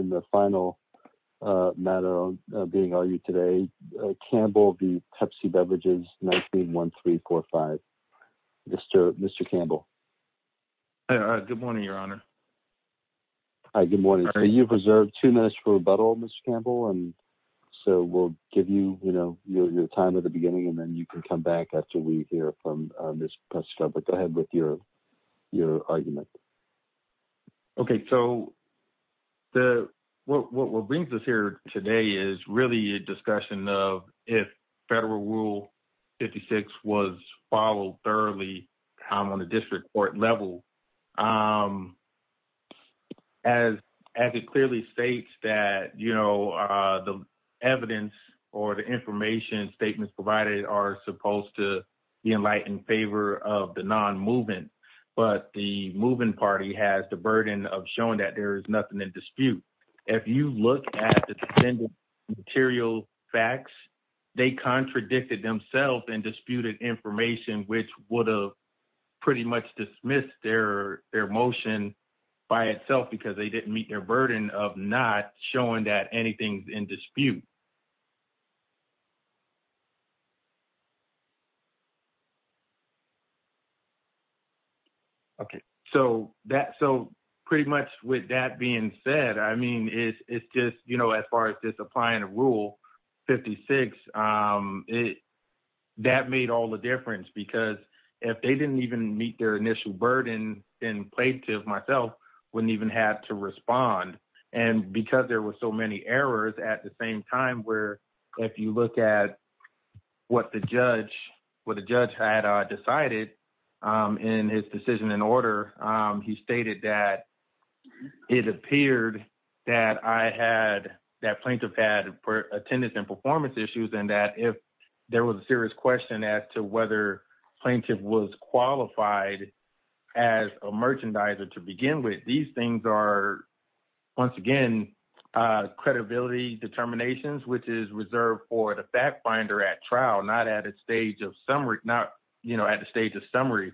And the final matter of being argued today, Campbell v. Pepsi Beverages, 19-1345. Mr. Campbell. Good morning, your honor. Hi, good morning. So you've reserved two minutes for rebuttal, Mr. Campbell. And so we'll give you, you know, your time at the beginning and then you can come back after we hear from Ms. Pescova. Go ahead with your argument. Okay, so what brings us here today is really a discussion of if federal rule 56 was followed thoroughly on the district court level. As it clearly states that, you know, the evidence or the information statements provided are supposed to be in light and favor of the non-movement, but the moving party has the burden of showing that there is nothing in dispute. If you look at the material facts, they contradicted themselves and disputed information, which would have pretty much dismissed their motion by itself because they didn't meet their burden of not showing that anything's in dispute. Okay, so pretty much with that being said, I mean, it's just, you know, as far as just applying a rule 56, that made all the difference because if they didn't even meet their initial burden and plaintiff myself wouldn't even have to respond. And because there were so many errors at the same time where if you look at what the judge had decided in his decision in order, he stated that it appeared that I had, that plaintiff had attendance and performance issues and that if there was a serious question as to whether plaintiff was qualified as a merchandiser to begin with, these things are once again, credibility determinations, which is reserved for the fact finder at trial, not at a stage of summary, not, you know, at the stage of summary.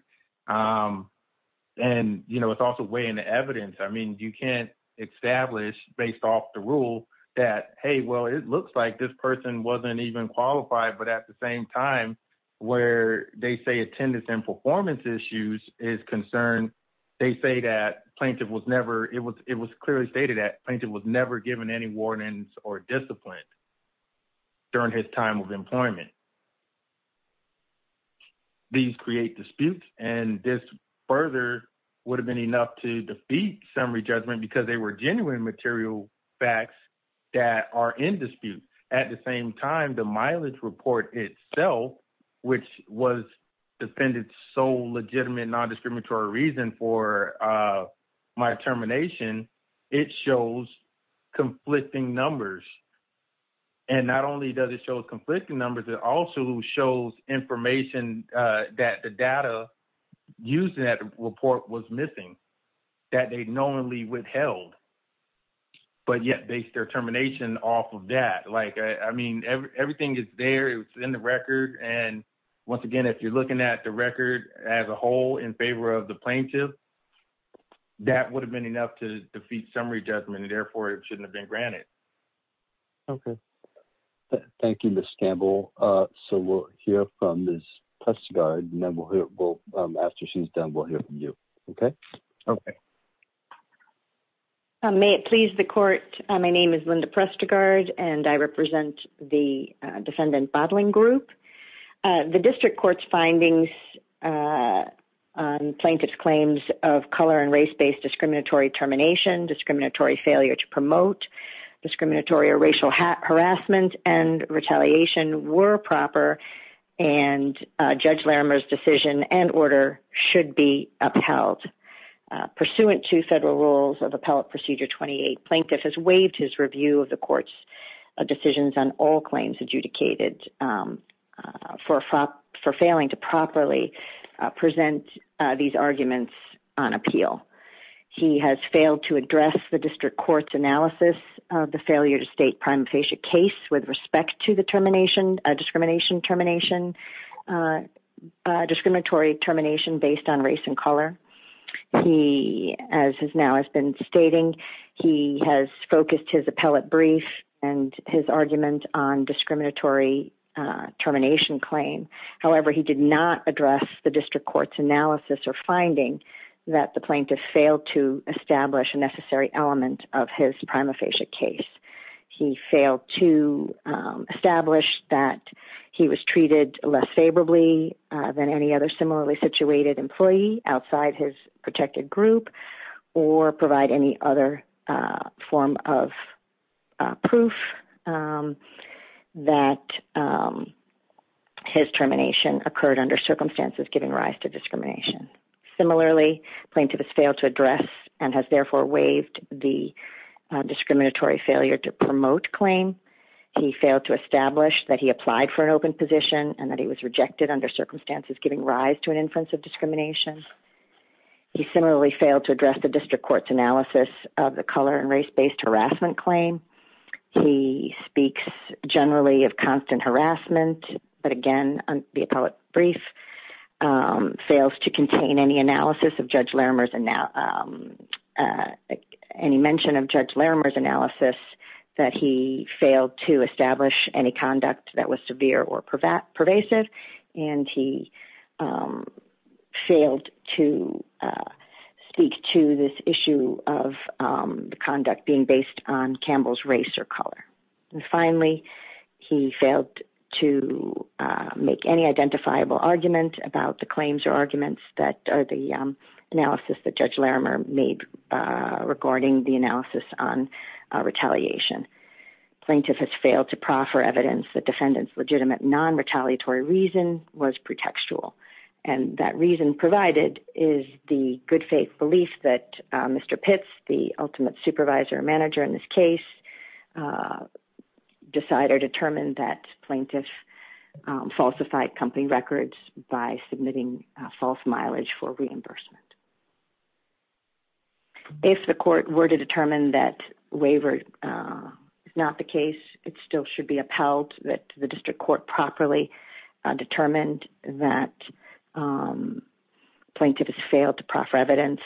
And, you know, it's also weighing the evidence. I mean, you can't establish based off the rule that, hey, well, it looks like this person wasn't even qualified, but at the same time where they say attendance and performance issues is concerned, they say that plaintiff was never, it was clearly stated that plaintiff was never given any warnings or discipline during his time of employment. These create disputes and this further would have been enough to defeat summary judgment because they were genuine material facts that are in dispute. At the same time, the mileage report itself, which was defended so legitimate, non-discriminatory reason for my termination, it shows conflicting numbers. And not only does it show conflicting numbers, it also shows information that the data used in that report was missing, that they knowingly withheld, but yet based their termination off of that. Like, I mean, everything is there, it's in the record. And once again, if you're looking at the record as a whole in favor of the plaintiff, that would have been enough to defeat summary judgment and therefore it shouldn't have been granted. Okay. Thank you, Ms. Gamble. So we'll hear from Ms. Prestegard and then we'll hear, after she's done, we'll hear from you, okay? Okay. May it please the court, my name is Linda Prestegard and I represent the defendant bottling group. The district court's findings on plaintiff's claims of color and race-based discriminatory termination, discriminatory failure to promote discriminatory or racial harassment and retaliation were proper and Judge Larimer's decision and order should be upheld. Pursuant to federal rules of Appellate Procedure 28, plaintiff has waived his review of the court's decisions on all claims adjudicated for failing to properly present these arguments on appeal. He has failed to address the district court's analysis of the failure to state prima facie case with respect to the termination, discrimination termination, discriminatory termination based on race and color. He, as has now has been stating, he has focused his appellate brief and his argument on discriminatory termination claim. However, he did not address the district court's analysis or finding that the plaintiff failed to establish a necessary element of his prima facie case. He failed to establish that he was treated less favorably than any other similarly situated employee outside his protected group or provide any other form of proof that his termination occurred under circumstances giving rise to discrimination. Similarly, plaintiff has failed to address and has therefore waived the discriminatory failure to promote claim. He failed to establish that he applied for an open position and that he was rejected under circumstances giving rise to an inference of discrimination. He similarly failed to address the district court's analysis of the color and race-based harassment claim. He speaks generally of constant harassment, but again, the appellate brief fails to contain any mention of Judge Larimer's analysis that he failed to establish any conduct that was severe or pervasive. And he failed to speak to this issue of the conduct being based on Campbell's race or color. And finally, he failed to make any identifiable argument about the claims or arguments that are the analysis that Judge Larimer made regarding the analysis on retaliation. Plaintiff has failed to proffer evidence that defendant's legitimate non-retaliatory reason was pretextual. And that reason provided is the good faith belief that Mr. Pitts, the ultimate supervisor or manager in this case, decide or determine that plaintiff falsified company records by submitting a false mileage for reimbursement. If the court were to determine that waiver is not the case, it still should be upheld that the district court properly determined that plaintiff has failed to proffer evidence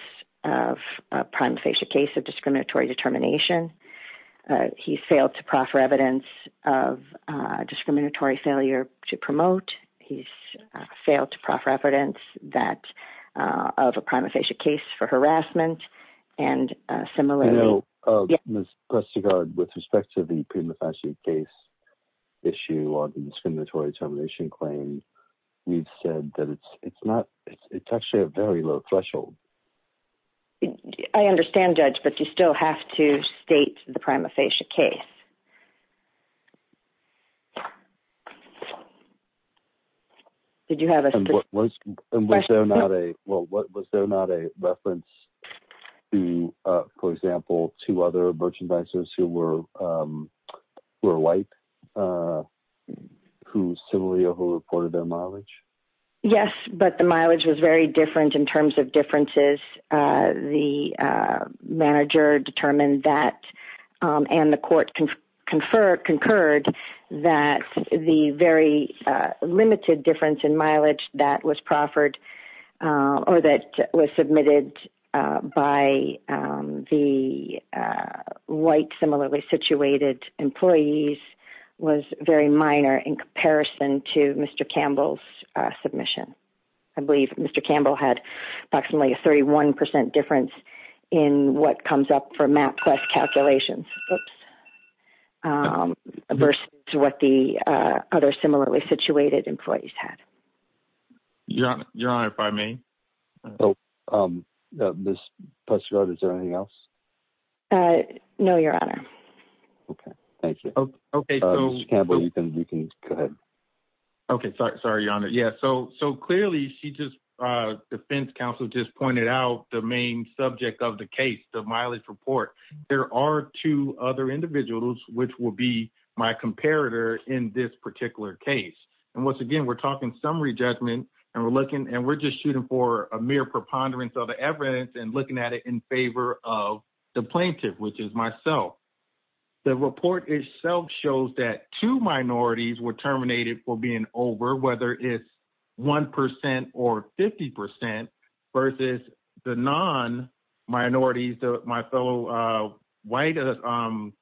of a prima facie case of discriminatory determination. He failed to proffer evidence of a discriminatory failure to promote. He's failed to proffer evidence that of a prima facie case for harassment. And similarly- No, Ms. Prestigard, with respect to the prima facie case issue on discriminatory determination claim, we've said that it's actually a very low threshold. I understand, Judge, but you still have to state the prima facie case. Did you have a- Was there not a reference to, for example, two other merchandisers who were white, who similarly reported their mileage? Yes, but the mileage was very different in terms of differences. The manager determined that, and the court concurred, that the very limited difference in mileage that was proffered or that was submitted by the white, similarly-situated employees was very minor in comparison to Mr. Campbell's submission. I believe Mr. Campbell had approximately a 31% difference in what comes up for MapQuest calculations, oops, versus what the other similarly-situated employees had. Your Honor, if I may. Ms. Pestero, is there anything else? No, Your Honor. Okay, thank you. Okay, so- Mr. Campbell, you can go ahead. Okay, sorry, Your Honor. Yeah, so clearly, Defense Counsel just pointed out the main subject of the case, the mileage report. There are two other individuals which will be my comparator in this particular case. And once again, we're talking summary judgment, and we're just shooting for a mere preponderance of the evidence and looking at it in favor of the plaintiff, which is myself. The report itself shows that two minorities were terminated for being over, whether it's 1% or 50% versus the non-minorities, my fellow white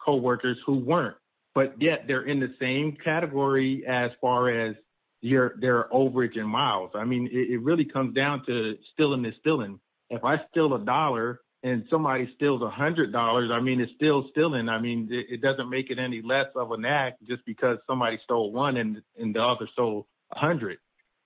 co-workers who weren't, but yet they're in the same category as far as their overage in miles. I mean, it really comes down to stealing is stealing. If I steal a dollar and somebody steals $100, I mean, it's still stealing. I mean, it doesn't make it any less of an act just because somebody stole one and the other stole 100.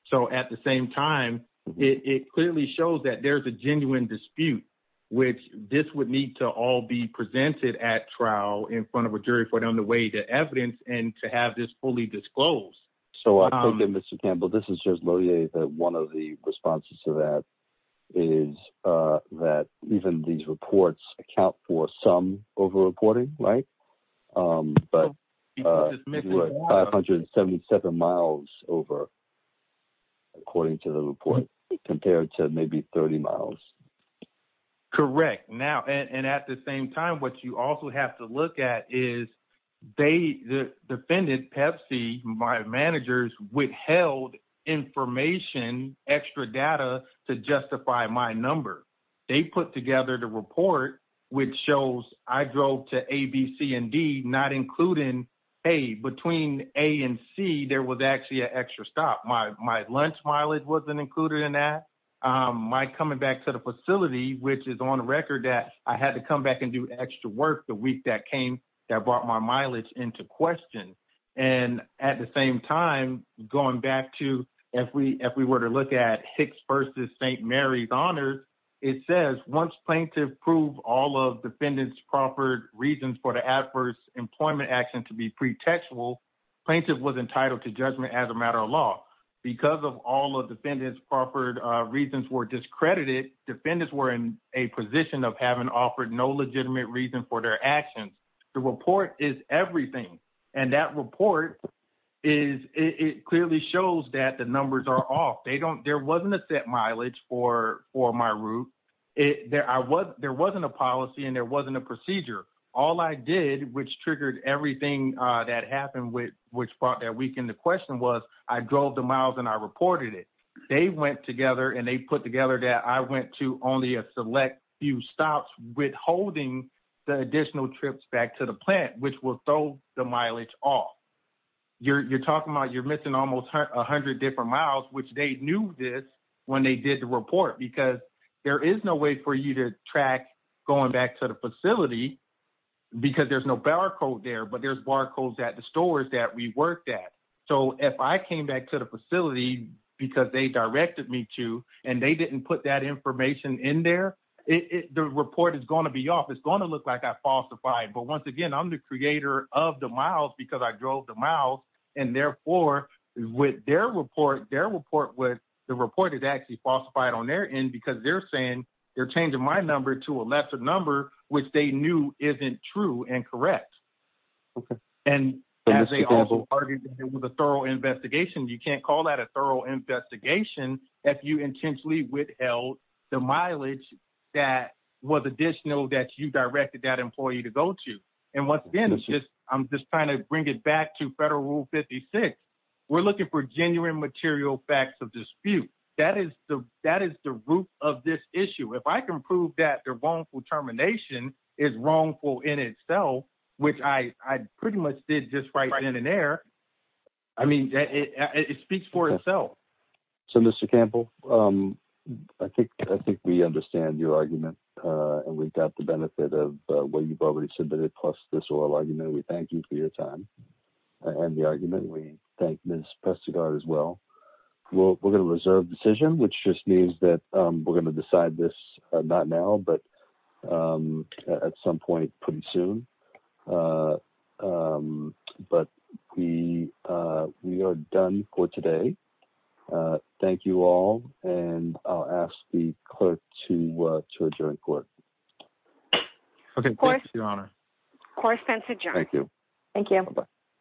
So at the same time, it clearly shows that there's a genuine dispute, which this would need to all be presented at trial in front of a jury for them to weigh the evidence and to have this fully disclosed. So I take it, Mr. Campbell, this is just loyally that one of the responses to that is that even these reports account for some over-reporting, right? But 577 miles over, according to the report, compared to maybe 30 miles. Correct. Now, and at the same time, what you also have to look at is they, the defendant, Pepsi, my managers, withheld information, extra data to justify my number. They put together the report, which shows I drove to A, B, C, and D, not including A. Between A and C, there was actually an extra stop. My lunch mileage wasn't included in that. My coming back to the facility, which is on the record that I had to come back and do extra work the week that came, that brought my mileage into question. And at the same time, going back to, if we were to look at Hicks versus St. Mary's Honors, it says, once plaintiff proved all of defendant's proffered reasons for the adverse employment action to be pretextual, plaintiff was entitled to judgment as a matter of law. Because of all of defendant's proffered reasons were discredited, defendants were in a position of having offered no legitimate reason for their actions The report is everything. And that report is, it clearly shows that the numbers are off. They don't, there wasn't a set mileage for my route. There wasn't a policy and there wasn't a procedure. All I did, which triggered everything that happened which brought that week into question was, I drove the miles and I reported it. They went together and they put together that I went to only a select few stops withholding the additional trips back to the plant which will throw the mileage off. You're talking about, you're missing almost a hundred different miles which they knew this when they did the report because there is no way for you to track going back to the facility because there's no barcode there, but there's barcodes at the stores that we worked at. So if I came back to the facility because they directed me to and they didn't put that information in there, the report is gonna be off. It's gonna look like I falsified. But once again, I'm the creator of the miles because I drove the miles. And therefore with their report, their report with the report is actually falsified on their end because they're saying they're changing my number to a lesser number which they knew isn't true and correct. And as they also argued with a thorough investigation, you can't call that a thorough investigation if you intentionally withheld the mileage that was additional that you directed that employee to go to. And once again, I'm just trying to bring it back to federal rule 56. We're looking for genuine material facts of dispute. That is the root of this issue. If I can prove that their wrongful termination is wrongful in itself, which I pretty much did just right in an air. I mean, it speaks for itself. So Mr. Campbell, I think we understand your argument and we've got the benefit of what you've already submitted plus this oral argument. We thank you for your time and the argument. We thank Ms. Pestegar as well. We're gonna reserve decision, which just means that we're gonna decide this not now, but at some point pretty soon. But we are done for today. Thank you all. And I'll ask the clerk to adjourn court. Okay. Thank you, Your Honor. Court is adjourned. Thank you. Thank you.